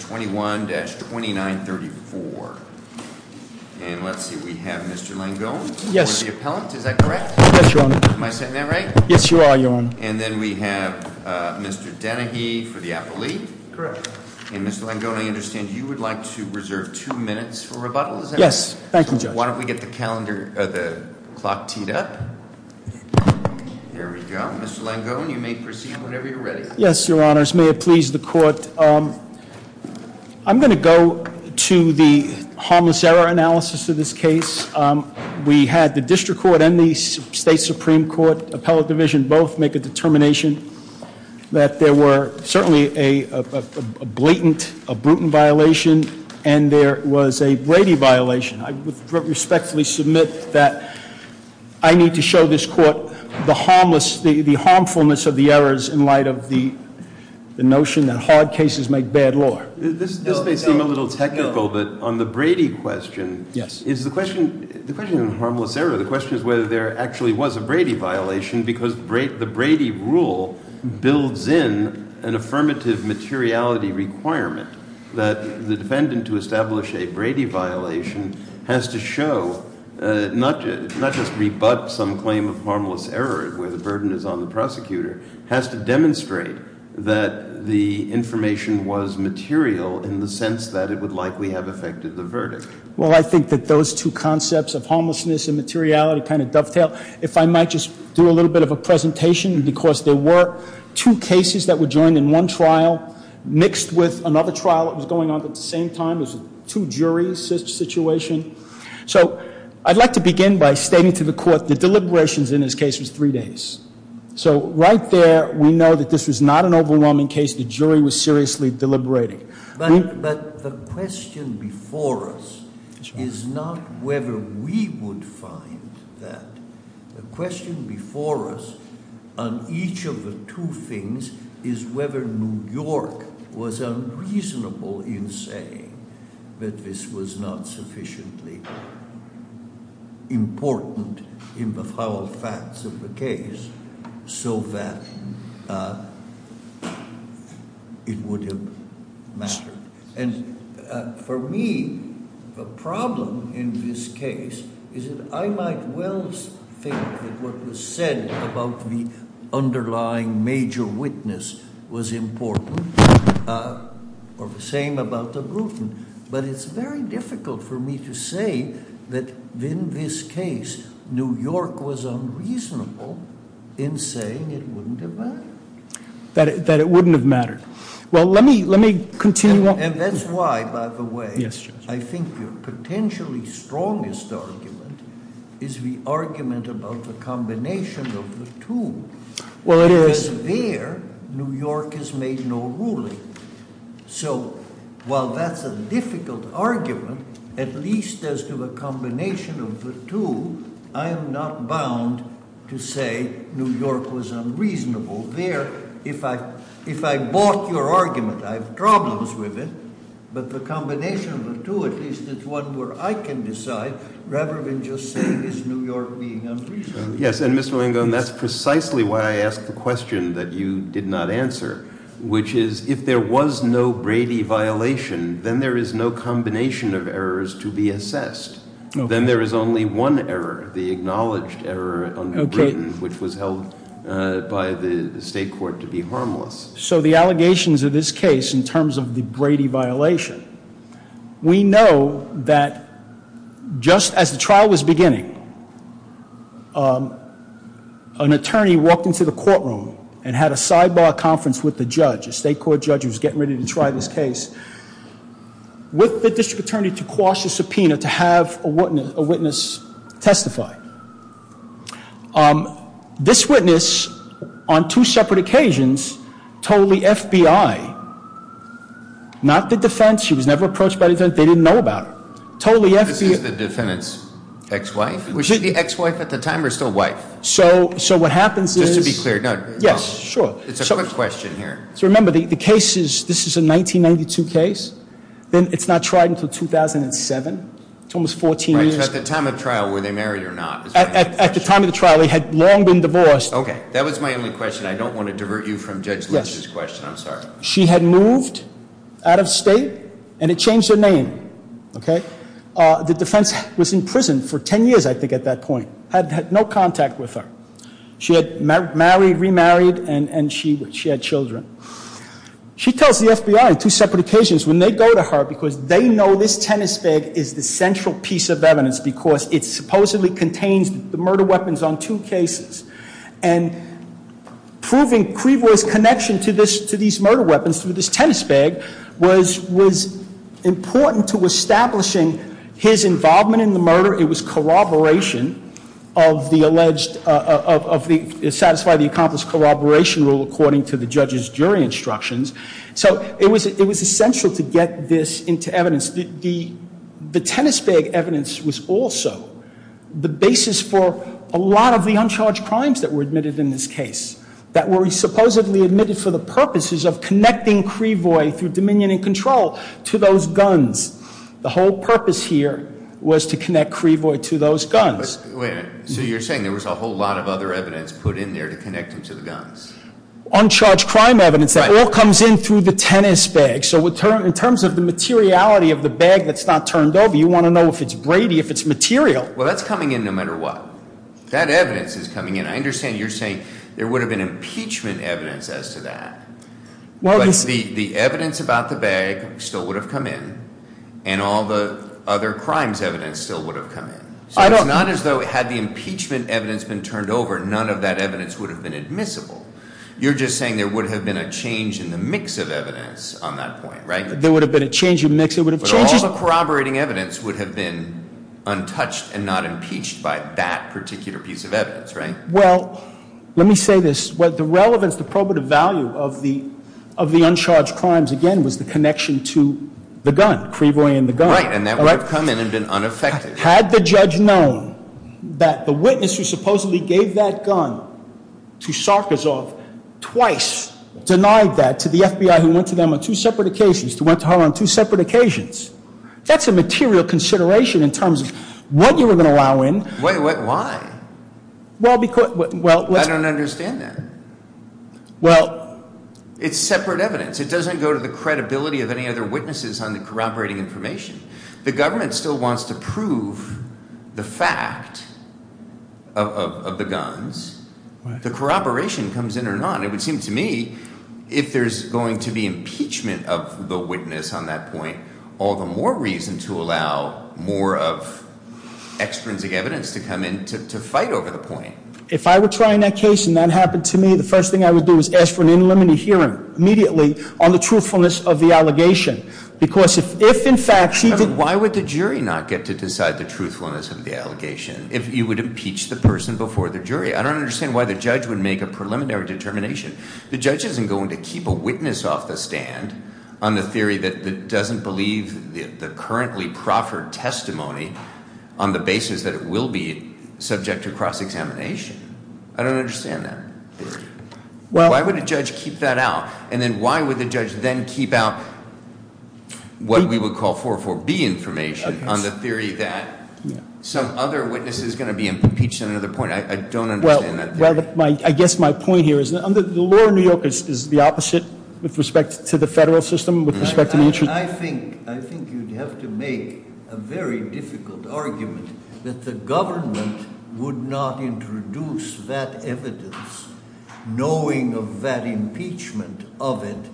21-2934. And let's see, we have Mr. Langone for the appellant. Is that correct? Yes, your honor. Am I saying that right? Yes, you are, your honor. And then we have Mr. Denehy for the appellee. Correct. And Mr. Langone, I understand you would like to reserve two minutes for rebuttal, is that correct? Yes, thank you, judge. Why don't we get the calendar, the clock teed up. There we go. Mr. Langone, you may proceed whenever you're ready. Yes, your honors. May it please the court. I'm going to go to the harmless error analysis of this case. We had the district court and the state supreme court appellate division both make a determination that there were certainly a blatant, a brutal violation and there was a Brady violation. I respectfully submit that I need to show this court the harmless, the harmfulness of the errors in light of the notion that hard cases make bad law. This may seem a little technical, but on the Brady question, is the question, the question on the harmless error, the question is whether there actually was a Brady violation because the Brady rule builds in an affirmative materiality requirement that the defendant to establish a Brady violation has to show, not just rebut some claim of harmless error where the burden is on the prosecutor, has to demonstrate that the information was material in the sense that it would likely have affected the verdict. Well, I think that those two concepts of harmlessness and materiality kind of dovetail. If I might just do a little bit of a presentation because there were two cases that were joined in one trial mixed with another trial that was going on at the same time. It was a two jury situation. So I'd like to begin by stating to the court the deliberations in this case was three days. So right there we know that this was not an overwhelming case. The jury was seriously deliberating. But the question before us is not whether we would find that. The question before us on each of the two things is whether New York was unreasonable in saying that this was not sufficiently important in the foul facts of the case so that it would have mattered. And for me, the problem in this case is that I might well think that what was said about the underlying major witness was important or the same about the Bruton. But it's very difficult for me to say that in this case, New York was unreasonable in saying it wouldn't have mattered. That it wouldn't have mattered. Well, let me continue on. And that's why, by the way, I think your potentially strongest argument is the argument about the combination of the two. Well, it is. Because there, New York has made no ruling. So while that's a difficult argument, at least as to the combination of the two, I am not bound to say New York was unreasonable. There, if I bought your argument, I have problems with it. But the combination of the two, at least it's one where I can decide rather than just say is New York being unreasonable? Yes, and Mr. Langone, that's precisely why I asked the question that you did not answer, which is if there was no Brady violation, then there is no combination of errors to be assessed. Then there is only one error, the acknowledged error under Bruton, which was held by the state court to be harmless. So the allegations of this case in terms of the Brady violation, we know that just as the trial was beginning, an attorney walked into the courtroom and had a sidebar conference with the judge, a state court judge who was getting ready to try this case, with the district attorney to quash the subpoena to have a witness testify. This witness, on two separate occasions, told the FBI, not the defense, she was never approached by the defense, they didn't know about it. This is the defendant's ex-wife? Was she the ex-wife at the time or still wife? So what happens is- Just to be clear, no. Yes, sure. It's a quick question here. So remember, the case is, this is a 1992 case, it's not tried until 2007, it's almost 14 years. Right, so at the time of trial, were they married or not? At the time of the trial, they had long been divorced. Okay, that was my only question, I don't want to divert you from Judge Lynch's question, I'm sorry. She had moved out of state and had changed her name. The defense was in prison for 10 years, I think, at that point. Had no contact with her. She had married, remarried, and she had children. She tells the FBI, on two separate occasions, when they go to her, because they know this tennis bag is the central piece of evidence because it supposedly contains the murder weapons on two cases. And proving Criveau's connection to these murder weapons, to this tennis bag, was important to establishing his involvement in the murder. It was corroboration of the alleged, to satisfy the accomplished corroboration rule according to the judge's jury instructions. So it was essential to get this into evidence. The tennis bag evidence was also the basis for a lot of the uncharged crimes that were supposedly admitted for the purposes of connecting Criveau, through dominion and control, to those guns. The whole purpose here was to connect Criveau to those guns. So you're saying there was a whole lot of other evidence put in there to connect him to the guns? Uncharged crime evidence, that all comes in through the tennis bag. So in terms of the materiality of the bag that's not turned over, you want to know if it's Brady, if it's material. Well that's coming in no matter what. That evidence is coming in. I understand you're saying there would have been corroboration evidence as to that. But the evidence about the bag still would have come in, and all the other crimes evidence still would have come in. So it's not as though had the impeachment evidence been turned over, none of that evidence would have been admissible. You're just saying there would have been a change in the mix of evidence on that point, right? There would have been a change of mix, it would have changed. But all the corroborating evidence would have been untouched and not impeached by that particular piece of evidence, right? Well, let me say this. The relevance, the probative value of the uncharged crimes, again, was the connection to the gun, Criveau and the gun. Right, and that would have come in and been unaffected. Had the judge known that the witness who supposedly gave that gun to Sarkisov twice denied that to the FBI who went to them on two separate occasions, who went to her on two separate occasions. That's a material consideration in terms of what you were going to allow in. Why? I don't understand that. It's separate evidence. It doesn't go to the credibility of any other witnesses on the corroborating information. The government still wants to prove the fact of the guns. The corroboration comes in or not. It would seem to me if there's going to be impeachment of the witness on that point, all the more reason to allow more of extrinsic evidence to come in to fight over the point. If I were trying that case and that happened to me, the first thing I would do is ask for an in limine hearing immediately on the truthfulness of the allegation. Because if in fact he did... I mean, why would the jury not get to decide the truthfulness of the allegation if you would impeach the person before the jury? I don't understand why the judge would make a preliminary determination. The judge isn't going to keep a witness off the stand on the theory that doesn't believe the currently proffered testimony on the basis that it will be subject to cross-examination. I don't understand that. Why would a judge keep that out? And then why would the judge then keep out what we would call 4-4-B information on the theory that some other witness is going to be impeached on another point? I don't understand that. Well, I guess my point here is that the law in New York is the opposite with respect to the federal system. I think you'd have to make a very difficult argument that the government would not introduce that evidence knowing of that impeachment of it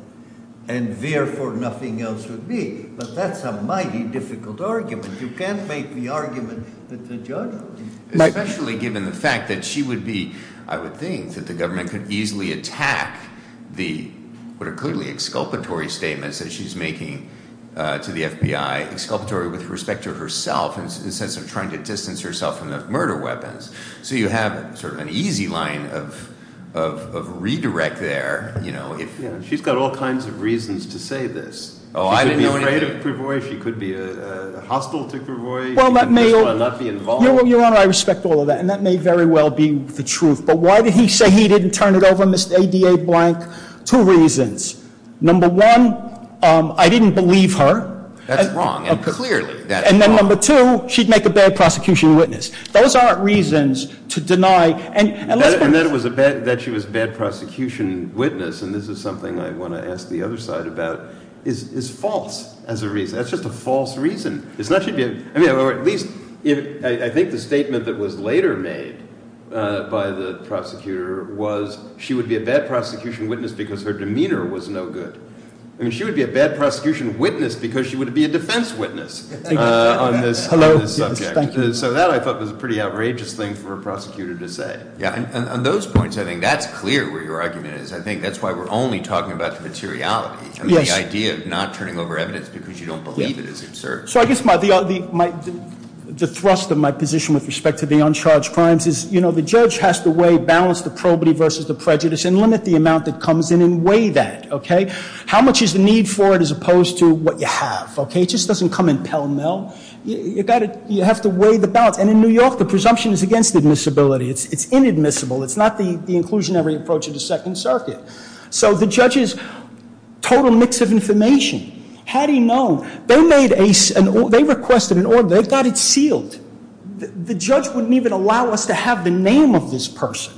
and therefore nothing else would be. But that's a mighty difficult argument. You can't make the argument that the judge would. Especially given the fact that she would be, I would think, that the government could easily attack the, what are clearly exculpatory statements that she's making to the FBI, exculpatory with respect to herself in the sense of trying to distance herself from the murder weapons. So you have sort of an easy line of redirect there. She's got all kinds of reasons to say this. She could be afraid of Pruvoy. She could be hostile to Pruvoy. Well, Your Honor, I respect all of that and that may very well be the truth. But why did he say he didn't turn it over, Mr. A. D. A. Blank? Two reasons. Number one, I didn't believe her. That's wrong. Clearly that's wrong. And then number two, she'd make a bad prosecution witness. Those aren't reasons to deny. And that she was a bad prosecution witness, and this is something I want to ask the other side about, is false as a reason. That's just a false reason. Or at least, I think the statement that was later made by the prosecutor was, she would be a bad prosecution witness because her demeanor was no good. I mean, she would be a bad prosecution witness because she would be a defense witness on this subject. So that I thought was a pretty outrageous thing for a prosecutor to say. Yeah, on those points, I think that's clear where your argument is. I think that's why we're only talking about the materiality. I mean, the idea of not turning over evidence because you don't believe it is absurd. So I guess the thrust of my position with respect to the uncharged crimes is, you know, the judge has to weigh balance, the probity versus the prejudice, and limit the amount that comes in and weigh that, okay? How much is the need for it as opposed to what you have, okay? It just doesn't come in pell-mell. You have to weigh the balance. And in New York, the presumption is against admissibility. It's inadmissible. It's not the inclusionary approach of the Second Circuit. So the judge is a total mix of information. How do you know? They requested an order. They've got it sealed. The judge wouldn't even allow us to have the name of this person.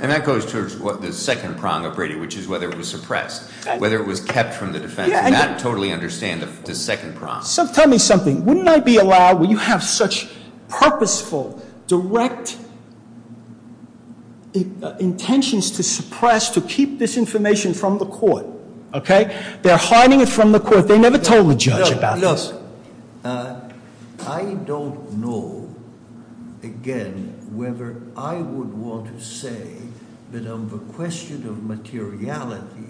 And that goes towards the second prong of Brady, which is whether it was suppressed, whether it was kept from the defense. I totally understand the second prong. Tell me something. Wouldn't I be allowed, when you have such purposeful, direct intentions to suppress, to keep this information from the court, okay? They're hiding it from the court. They never told the judge about it. Look, I don't know, again, whether I would want to say that on the question of materiality,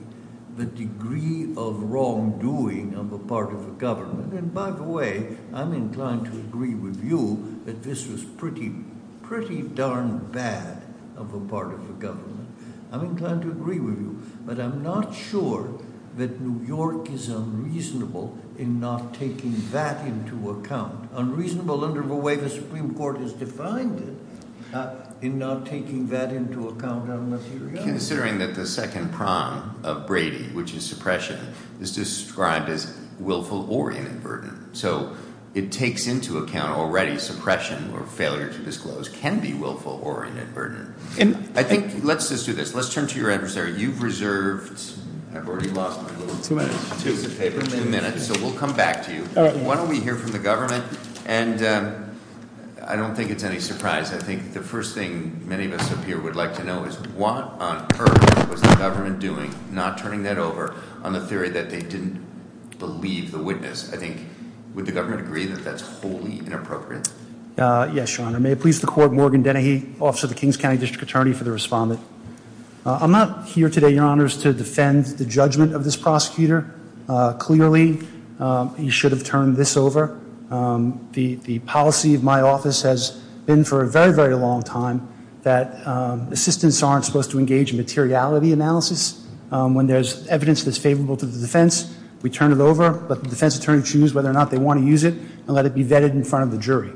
the degree of wrongdoing on the part of the government, and by the way, I'm inclined to agree with you that this was pretty darn bad on the part of the government. I'm inclined to agree with you, but I'm not sure that New York is unreasonable in not taking that into account. Unreasonable under the way the Supreme Court has defined it, in not taking that into account on materiality. Considering that the second prong of Brady, which is suppression, is described as willful oriented burden. So it takes into account already suppression or failure to disclose can be willful oriented burden. I think, let's just do this. Let's turn to your adversary. You've reserved, I've already lost my little piece of paper. Two minutes. So we'll come back to you. Why don't we hear from the government? And I don't think it's any surprise. I think the first thing many of us up here would like to know is what on earth was the government doing, not turning that over, on the theory that they didn't believe the witness. I think, would the government agree that that's wholly inappropriate? Yes, Your Honor. May it please the court, Morgan Dennehy, Officer of the Kings County District Attorney for the respondent. I'm not here today, Your Honors, to defend the judgment of this prosecutor. Clearly, he should have turned this over. The policy of my office has been for a very, very long time that assistants aren't supposed to engage in materiality analysis. When there's evidence that's favorable to the defense, we turn it over. But the defense attorney choose whether or not they want to use it and let it be vetted in front of the jury.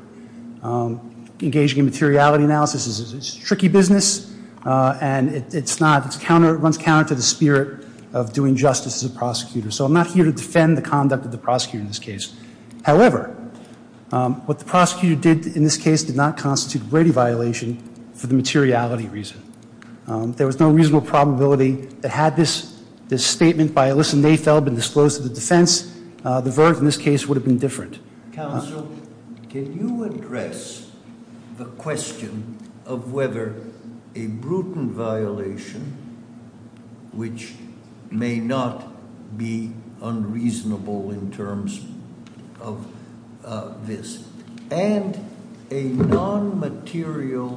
Engaging in materiality analysis is a tricky business and it's not, it's counter, it runs counter to the spirit of doing justice as a prosecutor. So I'm not here to defend the conduct of the prosecutor in this case. However, what the prosecutor did in this case did not constitute a Brady violation for the materiality reason. There was no reasonable probability that had this statement by Alyssa Nafel been disclosed to the defense, the verdict in this case would have been different. Counsel, can you address the question of whether a Bruton violation, which may not be unreasonable in terms of this, and a non-material,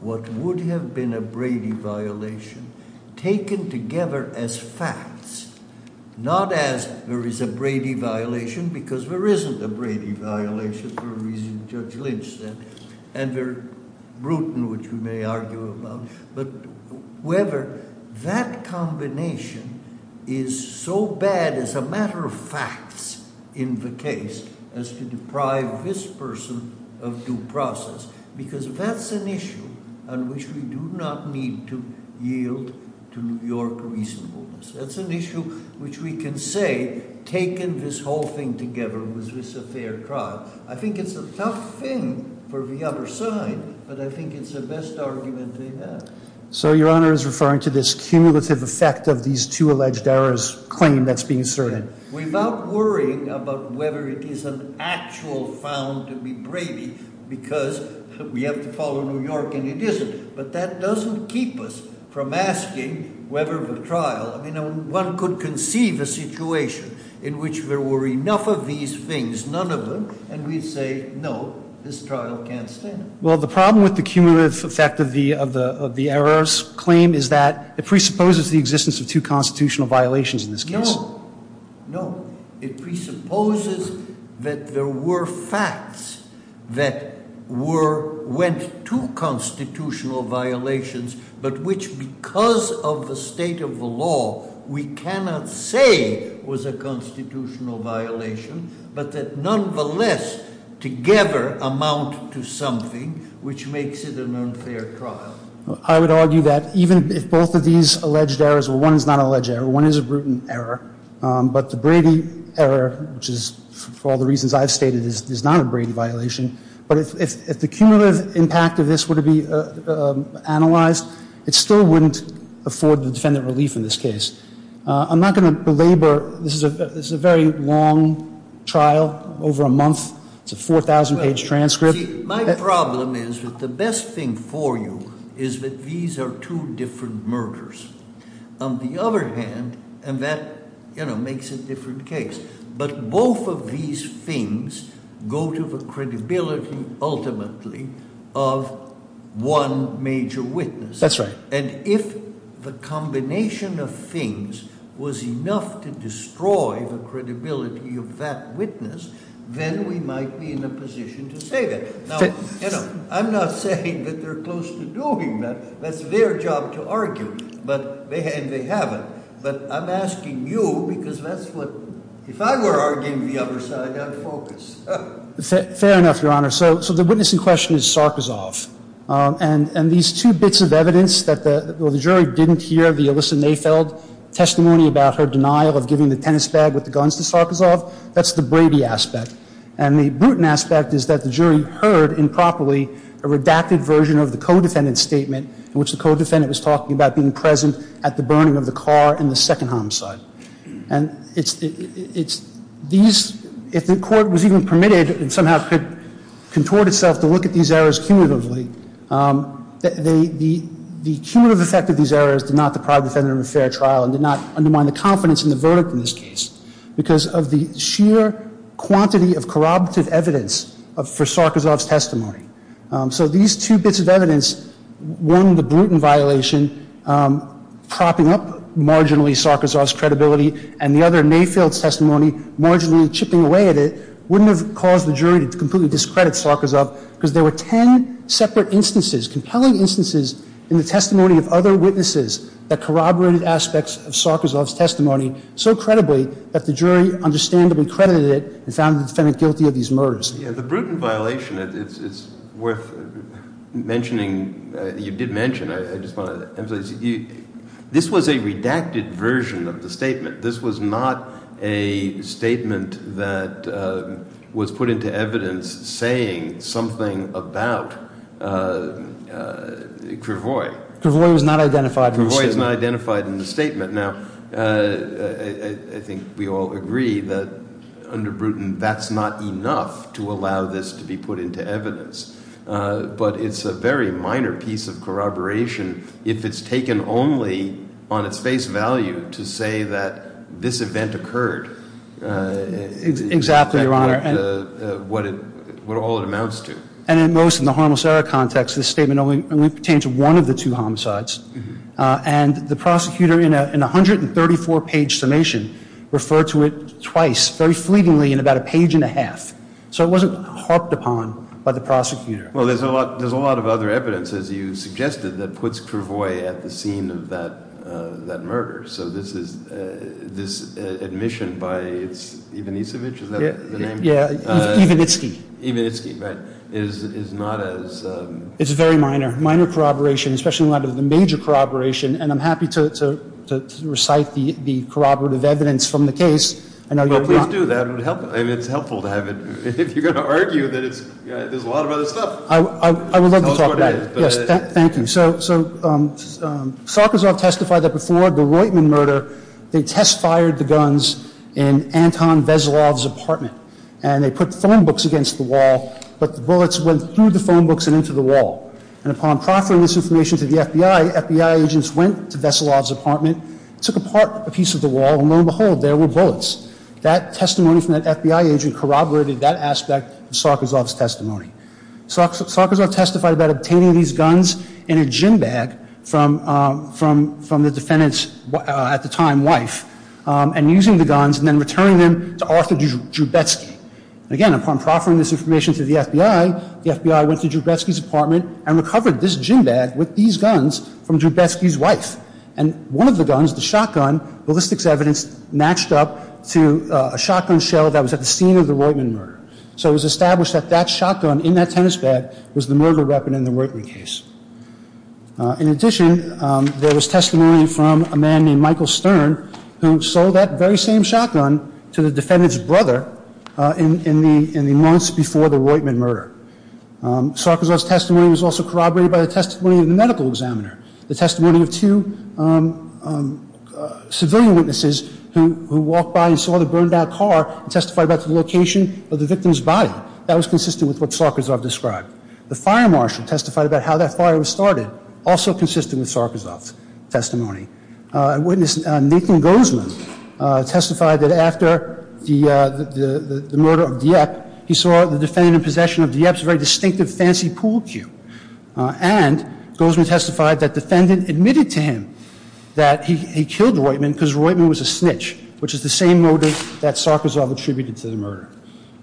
what would have been a Brady violation, taken together as facts, not as there is a Brady violation because there isn't a Brady violation for a reason Judge Lynch said, and they're Bruton, which we may argue about, but whether that combination is so bad as a matter of facts in the case as to deprive this person of due process, because that's an issue on which we do not need to yield to your reasonableness. That's an issue which we can say, taken this whole thing together, was this a fair trial? I think it's a tough thing for the other side, but I think it's the best argument they have. So your honor is referring to this cumulative effect of these two alleged errors claim that's being asserted? We're not worrying about whether it is an actual found to be Brady because we have to follow New York and it isn't, but that doesn't keep us from asking whether the trial, I mean, one could conceive a situation in which there were enough of these things, none of them, and we'd say no, this trial can't stand it. Well, the problem with the cumulative effect of the errors claim is that it presupposes the existence of two constitutional violations in this case. No, it presupposes that there were facts that went to constitutional violations, but which, because of the state of the law, we cannot say was a constitutional violation, but that nonetheless, together, amount to something which makes it an unfair trial. I would argue that even if both of these alleged errors, well, one is not an alleged error, one is a brutal error, but the Brady error, which is, for all the reasons I've stated, is not a Brady violation, but if the cumulative impact of this were to be analyzed, it still wouldn't afford the defendant relief in this case. I'm not going to belabor, this is a very long trial, over a month, it's a 4,000 page transcript. My problem is that the best thing for you is that these are two different murders. On the other hand, and that makes a different case. But both of these things go to the credibility, ultimately, of one major witness. That's right. And if the combination of things was enough to destroy the credibility of that witness, then we might be in a position to say that. Now, I'm not saying that they're close to doing that, that's their job to argue, and they haven't. But I'm asking you, because that's what, if I were arguing the other side, I'd focus. Fair enough, Your Honor. So the witness in question is Sarkozov. And these two bits of evidence, that the jury didn't hear the Alyssa Mayfeld testimony about her denial of giving the tennis bag with the guns to Sarkozov, that's the Brady aspect. And the Bruton aspect is that the jury heard, improperly, a redacted version of the co-defendant's statement, in which the co-defendant was talking about being present at the burning of the car in the second homicide. And if the court was even permitted, and somehow could contort itself to look at these errors cumulatively, the cumulative effect of these errors did not deprive the defendant of a fair trial, and did not undermine the confidence in the verdict in this case, because of the sheer quantity of corroborative evidence for Sarkozov's testimony. So these two bits of evidence, one, the Bruton violation, propping up marginally Sarkozov's credibility, and the other, Mayfeld's testimony, marginally chipping away at it, wouldn't have caused the jury to completely discredit Sarkozov, because there were ten separate instances, compelling instances, in the testimony of other witnesses that corroborated aspects of Sarkozov's testimony so credibly that the jury understandably credited it and found the defendant guilty of these murders. Yeah, the Bruton violation, it's worth mentioning, you did mention, I just want to emphasize. This was a redacted version of the statement. This was not a statement that was put into evidence saying something about Cravoy. Cravoy was not identified. Cravoy is not identified in the statement. Now, I think we all agree that under Bruton, that's not enough to allow this to be put into evidence. But it's a very minor piece of corroboration if it's taken only on its face value to say that this event occurred. Exactly, Your Honor. And what it, what all it amounts to. And in most of the homicidal context, this statement only pertains to one of the two homicides. And the prosecutor, in a 134-page summation, referred to it twice, very fleetingly, in about a page and a half. So it wasn't harped upon by the prosecutor. Well, there's a lot of other evidence, as you suggested, that puts Cravoy at the scene of that murder. So this is, this admission by Ivanisevich, is that the name? Yeah, Ivanitsky. Ivanitsky, right, is not as- It's very minor. Minor corroboration, especially in light of the major corroboration. And I'm happy to recite the corroborative evidence from the case. I know you're not- Well, please do that, and it's helpful to have it. If you're going to argue that it's, there's a lot of other stuff. I would love to talk about it. Yes, thank you. So, Sokozov testified that before the Roitman murder, they test fired the guns in Anton Veselov's apartment. And they put phone books against the wall, but the bullets went through the phone books and into the wall. And upon proffering this information to the FBI, FBI agents went to Veselov's apartment, took apart a piece of the wall, and lo and behold, there were bullets. That testimony from that FBI agent corroborated that aspect of Sokozov's testimony. So Sokozov testified about obtaining these guns in a gym bag from the defendant's, at the time, wife, and using the guns, and then returning them to Arthur Joubetsky. Again, upon proffering this information to the FBI, the FBI went to Joubetsky's apartment and recovered this gym bag with these guns from Joubetsky's wife. And one of the guns, the shotgun, ballistics evidence matched up to a shotgun shell that was at the scene of the Roitman murder. So it was established that that shotgun in that tennis bag was the murder weapon in the Roitman case. In addition, there was testimony from a man named Michael Stern, who sold that very same shotgun to the defendant's brother in the months before the Roitman murder. Sokozov's testimony was also corroborated by the testimony of the medical examiner. The testimony of two civilian witnesses who walked by and saw the burned out car and testified about the location of the victim's body. That was consistent with what Sokozov described. The fire marshal testified about how that fire was started, also consistent with Sokozov's testimony. A witness, Nathan Gozman, testified that after the murder of Dieppe, he saw the defendant in possession of Dieppe's very distinctive fancy pool cue. And Gozman testified that defendant admitted to him that he killed Roitman because Roitman was a snitch, which is the same motive that Sokozov attributed to the murder.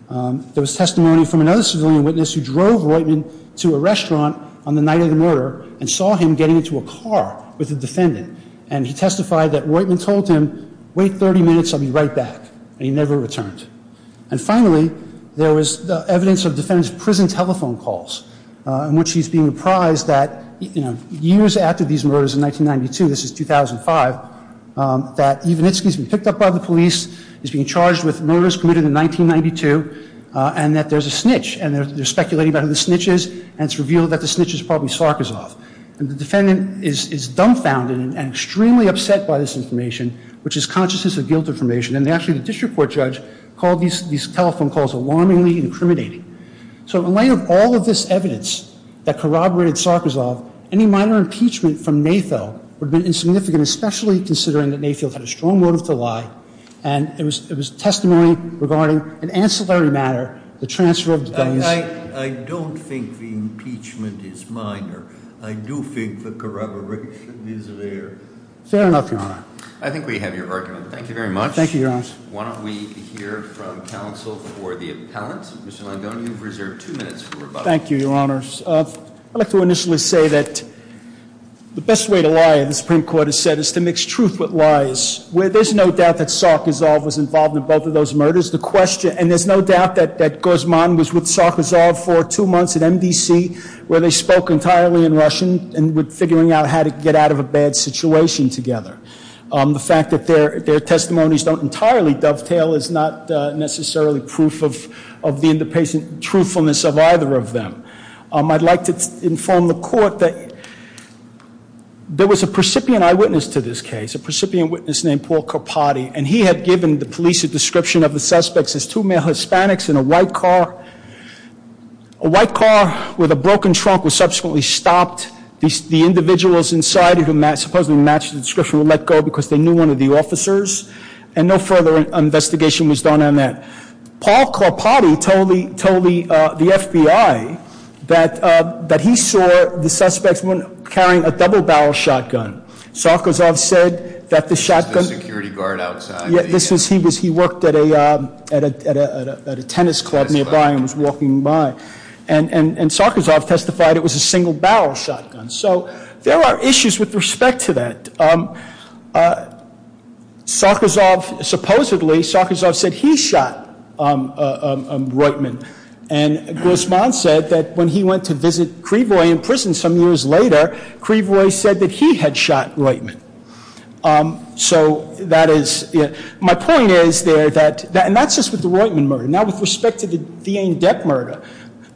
There was testimony from another civilian witness who drove Roitman to a restaurant on the night of the murder and saw him getting into a car with a defendant. And he testified that Roitman told him, wait 30 minutes, I'll be right back, and he never returned. And finally, there was evidence of defendant's prison telephone calls in which he's being reprised that years after these murders in 1992, this is 2005, that Ivanitsky's been picked up by the police, he's being charged with murders committed in 1992, and that there's a snitch. And they're speculating about who the snitch is, and it's revealed that the snitch is probably Sokozov. And the defendant is dumbfounded and extremely upset by this information, which is consciousness of guilt information. And actually, the district court judge called these telephone calls alarmingly incriminating. So in light of all of this evidence that corroborated Sokozov, any minor impeachment from Natho would have been insignificant, especially considering that Natho had a strong motive to lie. And it was testimony regarding an ancillary matter, the transfer of the- I don't think the impeachment is minor. I do think the corroboration is there. Fair enough, Your Honor. I think we have your argument. Thank you very much. Thank you, Your Honor. Why don't we hear from counsel for the appellant? Mr. Longone, you've reserved two minutes for rebuttal. Thank you, Your Honors. I'd like to initially say that the best way to lie, the Supreme Court has said, is to mix truth with lies. Where there's no doubt that Sokozov was involved in both of those murders. The question, and there's no doubt that Guzman was with Sokozov for two months at MDC, where they spoke entirely in Russian and were figuring out how to get out of a bad situation together. The fact that their testimonies don't entirely dovetail is not necessarily proof of the independent truthfulness of either of them. I'd like to inform the court that there was a precipient eyewitness to this case, a precipient witness named Paul Carpati, and he had given the police a description of the suspects as two male Hispanics in a white car. A white car with a broken trunk was subsequently stopped. The individuals inside it, who supposedly matched the description, were let go because they knew one of the officers. And no further investigation was done on that. Paul Carpati told the FBI that he saw the suspects carrying a double barrel shotgun. Sokozov said that the shotgun- The security guard outside- Yeah, he worked at a tennis club nearby and was walking by. And Sokozov testified it was a single barrel shotgun. So there are issues with respect to that. Supposedly, Sokozov said he shot a right man. And Grosman said that when he went to visit Creevoy in prison some years later, Creevoy said that he had shot Roitman. So that is, my point is there that, and that's just with the Roitman murder. Now with respect to the Dane Depp murder,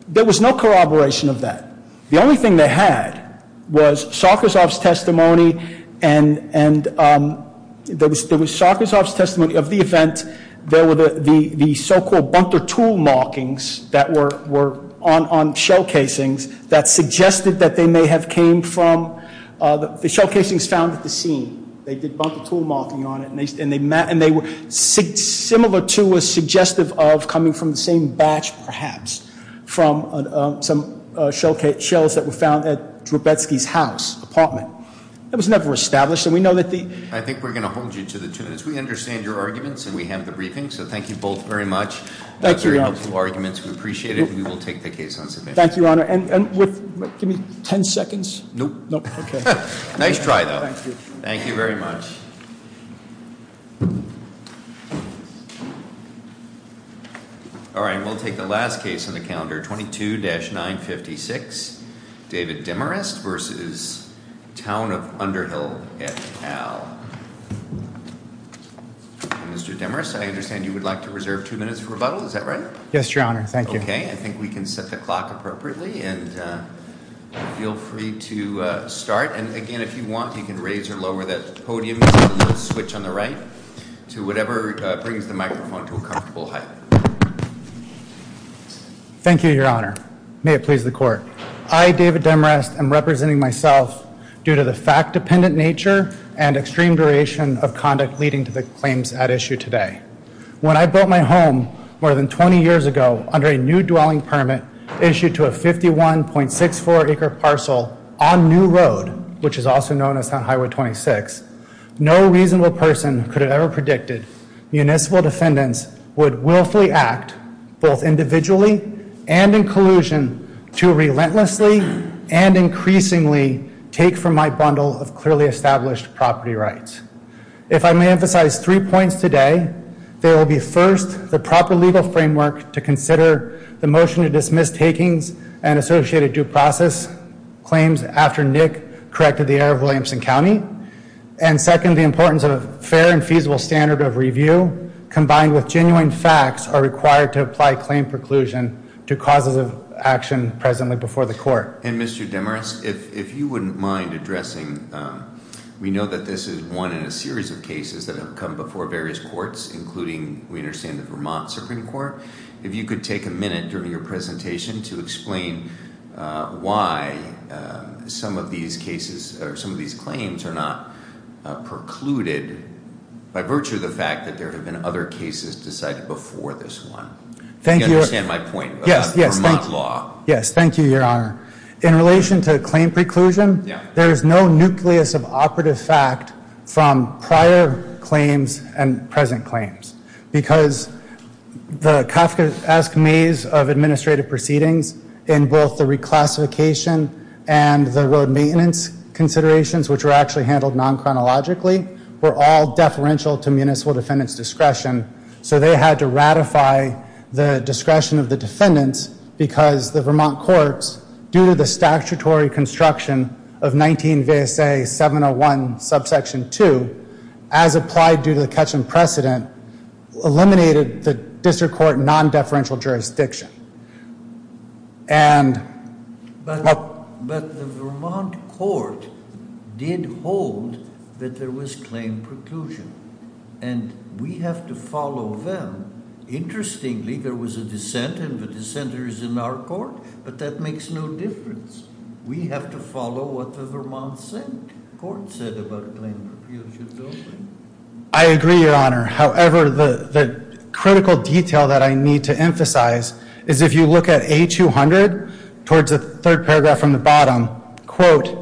there was no corroboration of that. The only thing they had was Sokozov's testimony and there was Sokozov's testimony of the event. There were the so-called bunter tool markings that were on shell casings that suggested that they may have came from the shell casings found at the scene. They did bunter tool marking on it and they were similar to a suggestive of coming from the same batch, perhaps, from some shells that were found at Drobetsky's house, apartment. It was never established and we know that the- I think we're going to hold you to the two minutes. We understand your arguments and we have the briefing, so thank you both very much. Thank you, Your Honor. Very helpful arguments, we appreciate it, and we will take the case on submission. Thank you, Your Honor, and give me ten seconds? Nope. Nope, okay. Nice try, though. Thank you. Thank you very much. All right, and we'll take the last case on the calendar, 22-956. David Demarest versus Town of Underhill et al. Mr. Demarest, I understand you would like to reserve two minutes for rebuttal, is that right? Yes, Your Honor, thank you. Okay, I think we can set the clock appropriately and feel free to start. And again, if you want, you can raise or lower that podium switch on the right to whatever brings the microphone to a comfortable height. May it please the court. I, David Demarest, am representing myself due to the fact-dependent nature and extreme duration of conduct leading to the claims at issue today. When I built my home more than 20 years ago under a new dwelling permit issued to a 51.64 acre parcel on New Road, which is also known as High Road 26, no reasonable person could have ever predicted municipal defendants would willfully act, both individually and in collusion, to relentlessly and increasingly take from my bundle of clearly established property rights. If I may emphasize three points today, there will be first, the proper legal framework to consider the motion to dismiss takings and associated due process claims after Nick corrected the error of Williamson County. And second, the importance of fair and feasible standard of review, combined with genuine facts, are required to apply claim preclusion to causes of action presently before the court. And Mr. Demarest, if you wouldn't mind addressing, we know that this is one in a series of cases that have come before various courts, including, we understand, the Vermont Supreme Court. If you could take a minute during your presentation to explain why some of these claims are not precluded by virtue of the fact that there have been other cases decided before this one. I think you understand my point about Vermont law. Yes, thank you, your honor. In relation to claim preclusion, there is no nucleus of operative fact from prior claims and present claims, because the Kafkaesque maze of administrative proceedings in both the reclassification and the road maintenance considerations, which were actually handled non-chronologically, were all deferential to municipal defendant's discretion. So they had to ratify the discretion of the defendants because the Vermont courts, due to the statutory construction of 19 VSA 701 subsection 2, as applied due to the Ketchum precedent, eliminated the district court non-deferential jurisdiction. But the Vermont court did hold that there was claim preclusion, and we have to follow them. Interestingly, there was a dissent, and the dissenter is in our court, but that makes no difference. We have to follow what the Vermont court said about the claim preclusion building. I agree, your honor. However, the critical detail that I need to emphasize is if you look at A200, towards the third paragraph from the bottom, quote,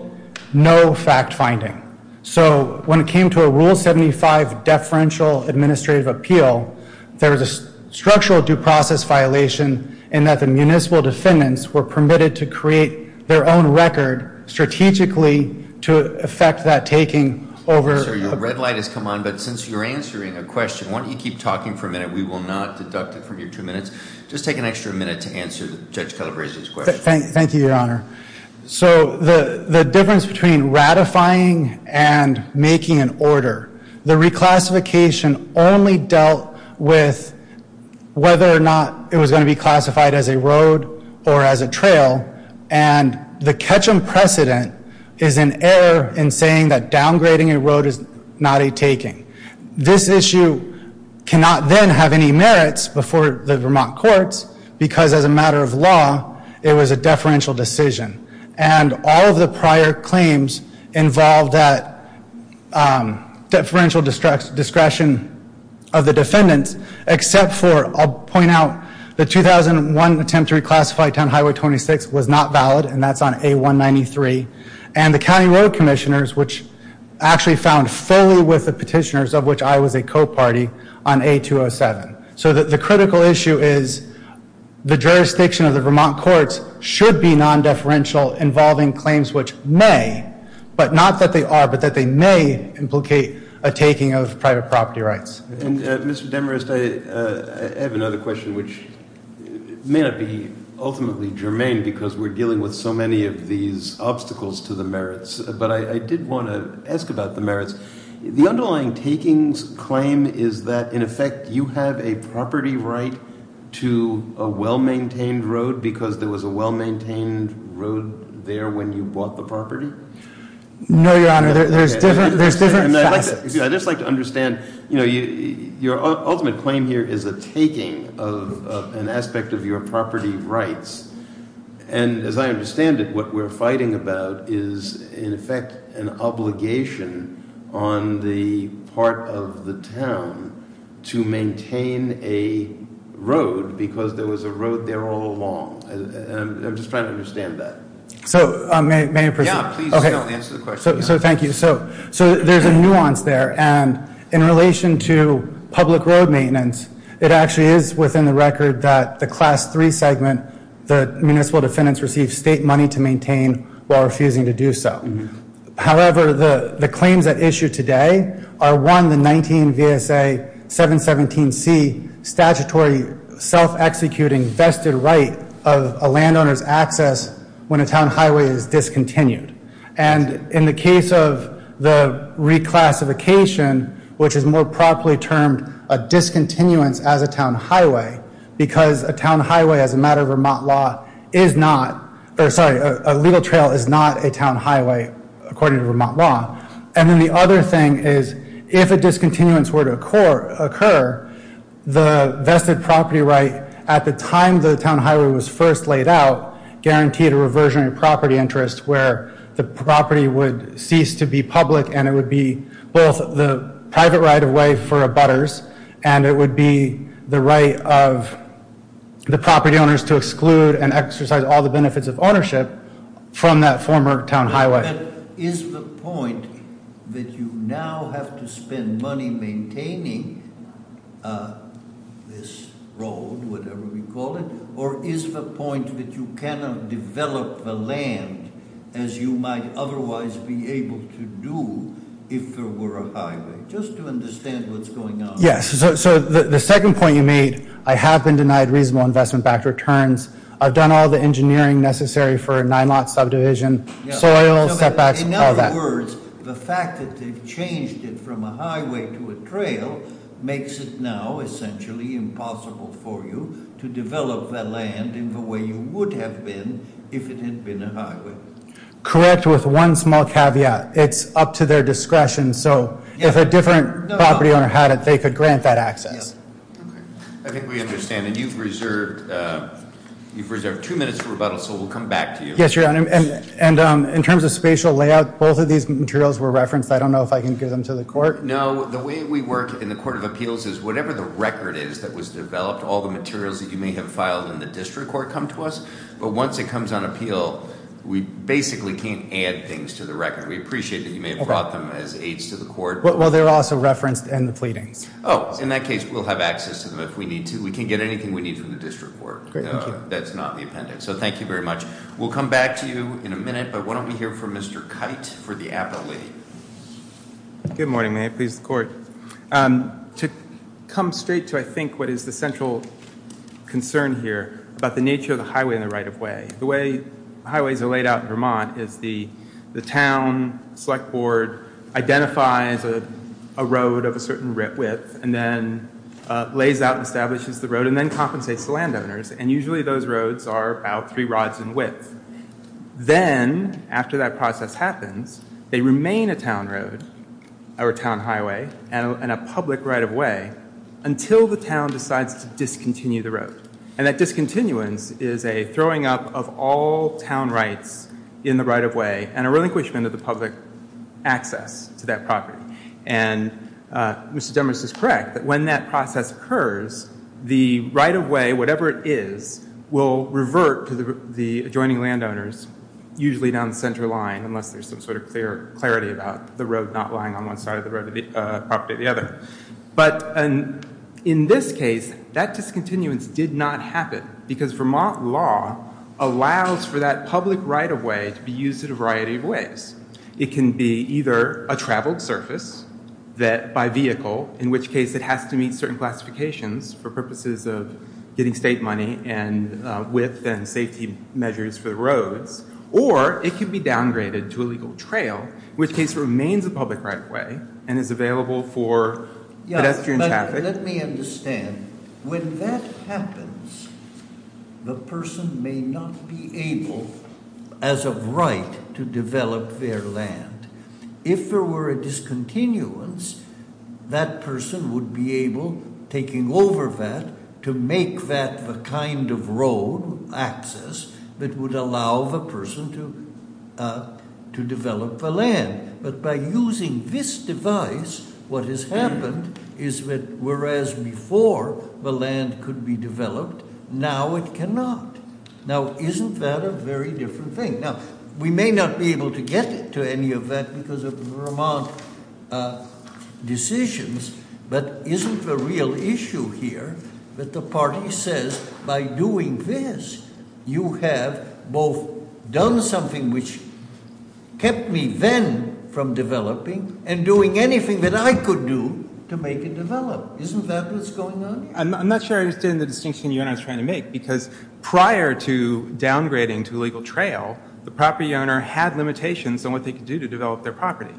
no fact finding. So when it came to a Rule 75 deferential administrative appeal, there was a structural due process violation in that the municipal defendants were permitted to create their own record strategically to affect that taking over- Sir, your red light has come on, but since you're answering a question, why don't you keep talking for a minute? We will not deduct it from your two minutes. Just take an extra minute to answer Judge Calabresi's question. Thank you, your honor. So the difference between ratifying and making an order. The reclassification only dealt with whether or not it was going to be classified as a road or as a trail. And the catch and precedent is an error in saying that downgrading a road is not a taking. This issue cannot then have any merits before the Vermont courts, because as a matter of law, it was a deferential decision. And all of the prior claims involved that deferential discretion of the defendants, except for, I'll point out the 2001 attempt to reclassify town highway 26 was not valid, and that's on A193. And the county road commissioners, which actually found fully with the petitioners of which I was a co-party on A207. So the critical issue is the jurisdiction of the Vermont courts should be non-deferential involving claims, which may, but not that they are, but that they may implicate a taking of private property rights. And Mr. Demarest, I have another question, which may not be ultimately germane because we're dealing with so many of these obstacles to the merits, but I did want to ask about the merits. The underlying takings claim is that, in effect, you have a property right to a well-maintained road because there was a well-maintained road there when you bought the property? No, your honor, there's different facets. I'd just like to understand, your ultimate claim here is a taking of an aspect of your property rights. And as I understand it, what we're fighting about is, in effect, an obligation on the part of the town to maintain a road because there was a road there all along. I'm just trying to understand that. So, may I proceed? Yeah, please go ahead and answer the question. So, thank you. So, there's a nuance there, and in relation to public road maintenance, it actually is within the record that the Class 3 segment, the municipal defendants receive state money to maintain while refusing to do so. However, the claims at issue today are, one, the 19 VSA 717C statutory self-executing vested right of a landowner's access when a town highway is discontinued. And in the case of the reclassification, which is more properly termed a discontinuance as a town highway because a town highway as a matter of Vermont law is not, or sorry, a legal trail is not a town highway according to Vermont law. And then the other thing is, if a discontinuance were to occur, the vested property right at the time the town highway was first laid out guaranteed a reversion in property interest where the property would cease to be public and it would be both the private right of way for abutters and it would be the right of the property owners to exclude and exercise all the benefits of ownership from that former town highway. Is the point that you now have to spend money maintaining this road, whatever we call it, or is the point that you cannot develop the land as you might otherwise be able to do if there were a highway, just to understand what's going on? Yes. So the second point you made, I have been denied reasonable investment-backed returns. I've done all the engineering necessary for a nine lot subdivision, soil, setbacks, all that. In other words, the fact that they've changed it from a highway to a trail makes it now essentially impossible for you to develop that land in the way you would have been if it had been a highway. Correct, with one small caveat. It's up to their discretion. So if a different property owner had it, they could grant that access. I think we understand, and you've reserved two minutes for rebuttal, so we'll come back to you. Yes, Your Honor, and in terms of spatial layout, both of these materials were referenced. I don't know if I can give them to the court. No, the way we work in the Court of Appeals is whatever the record is that was developed, all the materials that you may have filed in the district court come to us, but once it comes on appeal, we basically can't add things to the record. We appreciate that you may have brought them as aids to the court. Well, they're also referenced in the pleadings. Oh, in that case, we'll have access to them if we need to. We can get anything we need from the district court. Great, thank you. That's not the appendix, so thank you very much. We'll come back to you in a minute, but why don't we hear from Mr. Kite for the appellate. Good morning, may it please the Court. To come straight to, I think, what is the central concern here about the nature of the highway and the right-of-way, the way highways are laid out in Vermont is the town select board identifies a certain width and then lays out and establishes the road and then compensates the landowners, and usually those roads are about three rods in width. Then, after that process happens, they remain a town road or a town highway and a public right-of-way until the town decides to discontinue the road, and that discontinuance is a throwing up of all town rights in the right-of-way and a relinquishment of the public access to that Mr. Demers is correct that when that process occurs, the right-of-way, whatever it is, will revert to the adjoining landowners, usually down the center line, unless there's some sort of clarity about the road not lying on one side of the property or the other. But in this case, that discontinuance did not happen because Vermont law allows for that public right-of-way to be used in a variety of ways. It can be either a traveled surface by vehicle, in which case it has to meet certain classifications for purposes of getting state money and width and safety measures for the roads, or it can be downgraded to a legal trail, which case remains a public right-of-way and is available for pedestrian traffic. Let me understand. When that happens, the person may not be able, as of right, to develop their land. If there were a discontinuance, that person would be able, taking over that, to make that the kind of road access that would allow the person to develop the land. But by using this device, what has happened is that whereas before the land could be developed, now it cannot. Now, isn't that a very different thing? Now, we may not be able to get to any of that because of Vermont decisions, but isn't the real issue here that the party says, by doing this, you have both done something which kept me then from developing and doing anything that I could do to make it develop? Isn't that what's going on? I'm not sure I understand the distinction you and I was trying to make because prior to downgrading to a legal trail, the property owner had limitations on what they could do to develop their property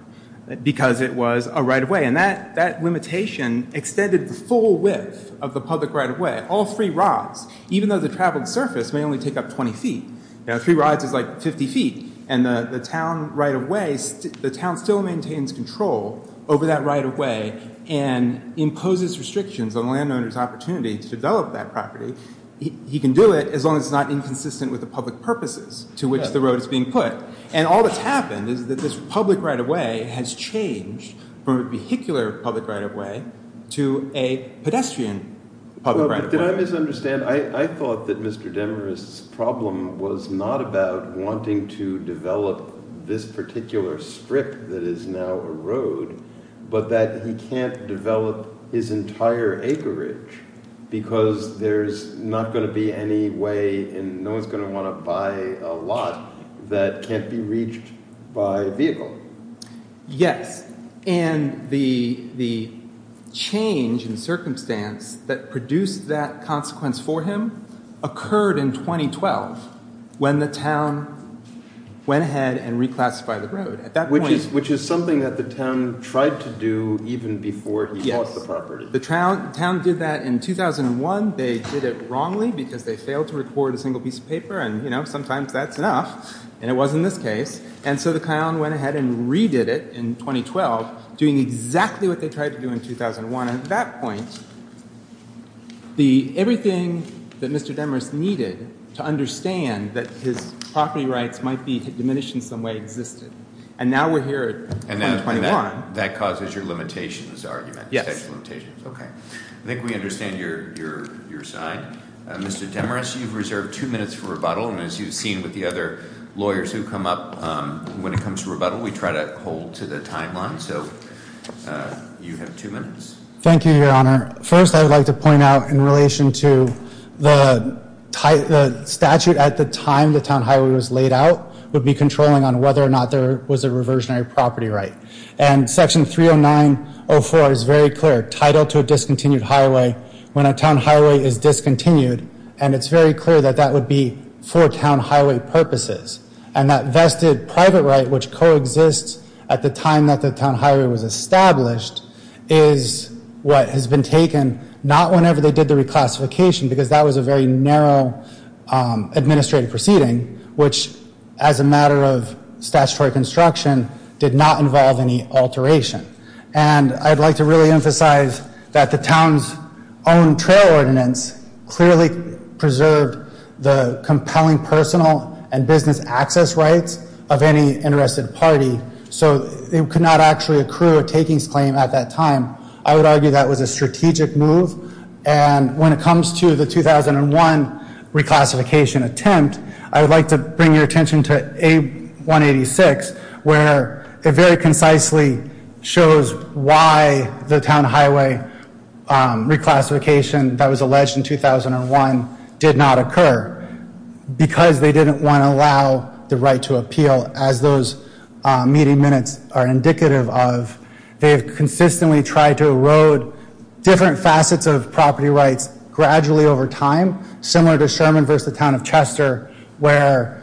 because it was a right-of-way, and that limitation extended the full width of the public right-of-way. All three roads, even though the traveled surface may only take up 20 feet, you know, three rides is like 50 feet, and the town right-of-way, the town still maintains control over that right-of-way and imposes restrictions on the landowner's opportunity to develop that property. He can do it as long as it's not inconsistent with the public purposes to which the road is being put. And all that's happened is that this public right-of-way has changed from a vehicular public right-of-way to a pedestrian public right-of-way. Did I misunderstand? I thought that Mr. Demarest's problem was not about wanting to develop this particular strip that is now a road, but that he can't develop his entire acreage because there's not going to be any way, and no one's going to want to buy a lot that can't be reached by vehicle. Yes, and the change in circumstance that produced that consequence for him occurred in 2012 when the town went ahead and reclassified the road. Which is something that the town tried to do even before he bought the property. The town did that in 2001. They did it wrongly because they failed to record a single piece of paper, and you know, sometimes that's and it was in this case. And so the town went ahead and redid it in 2012, doing exactly what they tried to do in 2001. And at that point, everything that Mr. Demarest needed to understand that his property rights might be diminished in some way existed. And now we're here in 2021. That causes your limitations argument. Yes. Okay, I think we understand your side. Mr. Demarest, you've reserved two minutes for rebuttal. And as you've seen with the other lawyers who come up when it comes to rebuttal, we try to hold to the timeline. So you have two minutes. Thank you, your honor. First, I would like to point out in relation to the statute at the time the town highway was laid out would be controlling on whether or not there was a reversionary property right. And section 30904 is very clear. Title to a discontinued highway, when a town highway is discontinued. And it's very clear that that would be for town highway purposes. And that vested private right, which coexists at the time that the town highway was established, is what has been taken, not whenever they did the reclassification, because that was a very narrow administrative proceeding, which as a matter of statutory construction, did not involve any alteration. And I'd like to really emphasize that the town's own trail ordinance clearly preserved the compelling personal and business access rights of any interested party. So it could not actually accrue a takings claim at that time. I would argue that was a strategic move. And when it comes to the 2001 reclassification attempt, I would like to point your attention to A186, where it very concisely shows why the town highway reclassification that was alleged in 2001 did not occur. Because they didn't want to allow the right to appeal, as those meeting minutes are indicative of. They have consistently tried to erode different facets of property rights gradually over time, similar to Sherman versus the town of Chester, where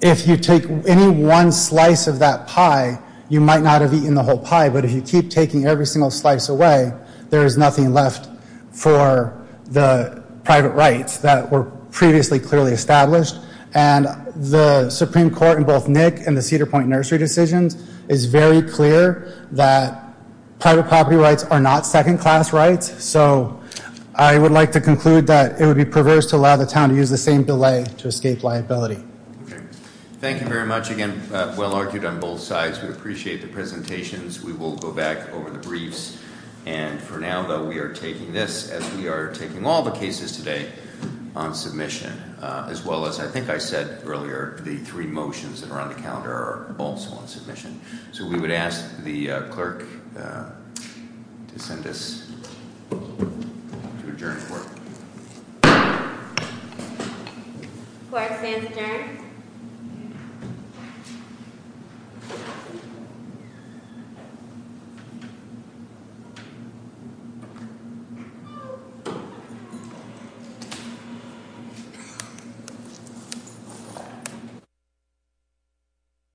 if you take any one slice of that pie, you might not have eaten the whole pie. But if you keep taking every single slice away, there is nothing left for the private rights that were previously clearly established. And the Supreme Court in both Nick and the Cedar Point nursery decisions is very clear that private property rights are not second class rights. So I would like to conclude that it would be perverse to allow the town to use the same delay to escape liability. Thank you very much. Again, well argued on both sides. We appreciate the presentations. We will go back over the briefs. And for now, though, we are taking this as we are taking all the cases today on submission, as well as I think I said earlier, the three motions that are on the calendar also on submission. So we would ask the clerk to send us to adjourn. Thank you.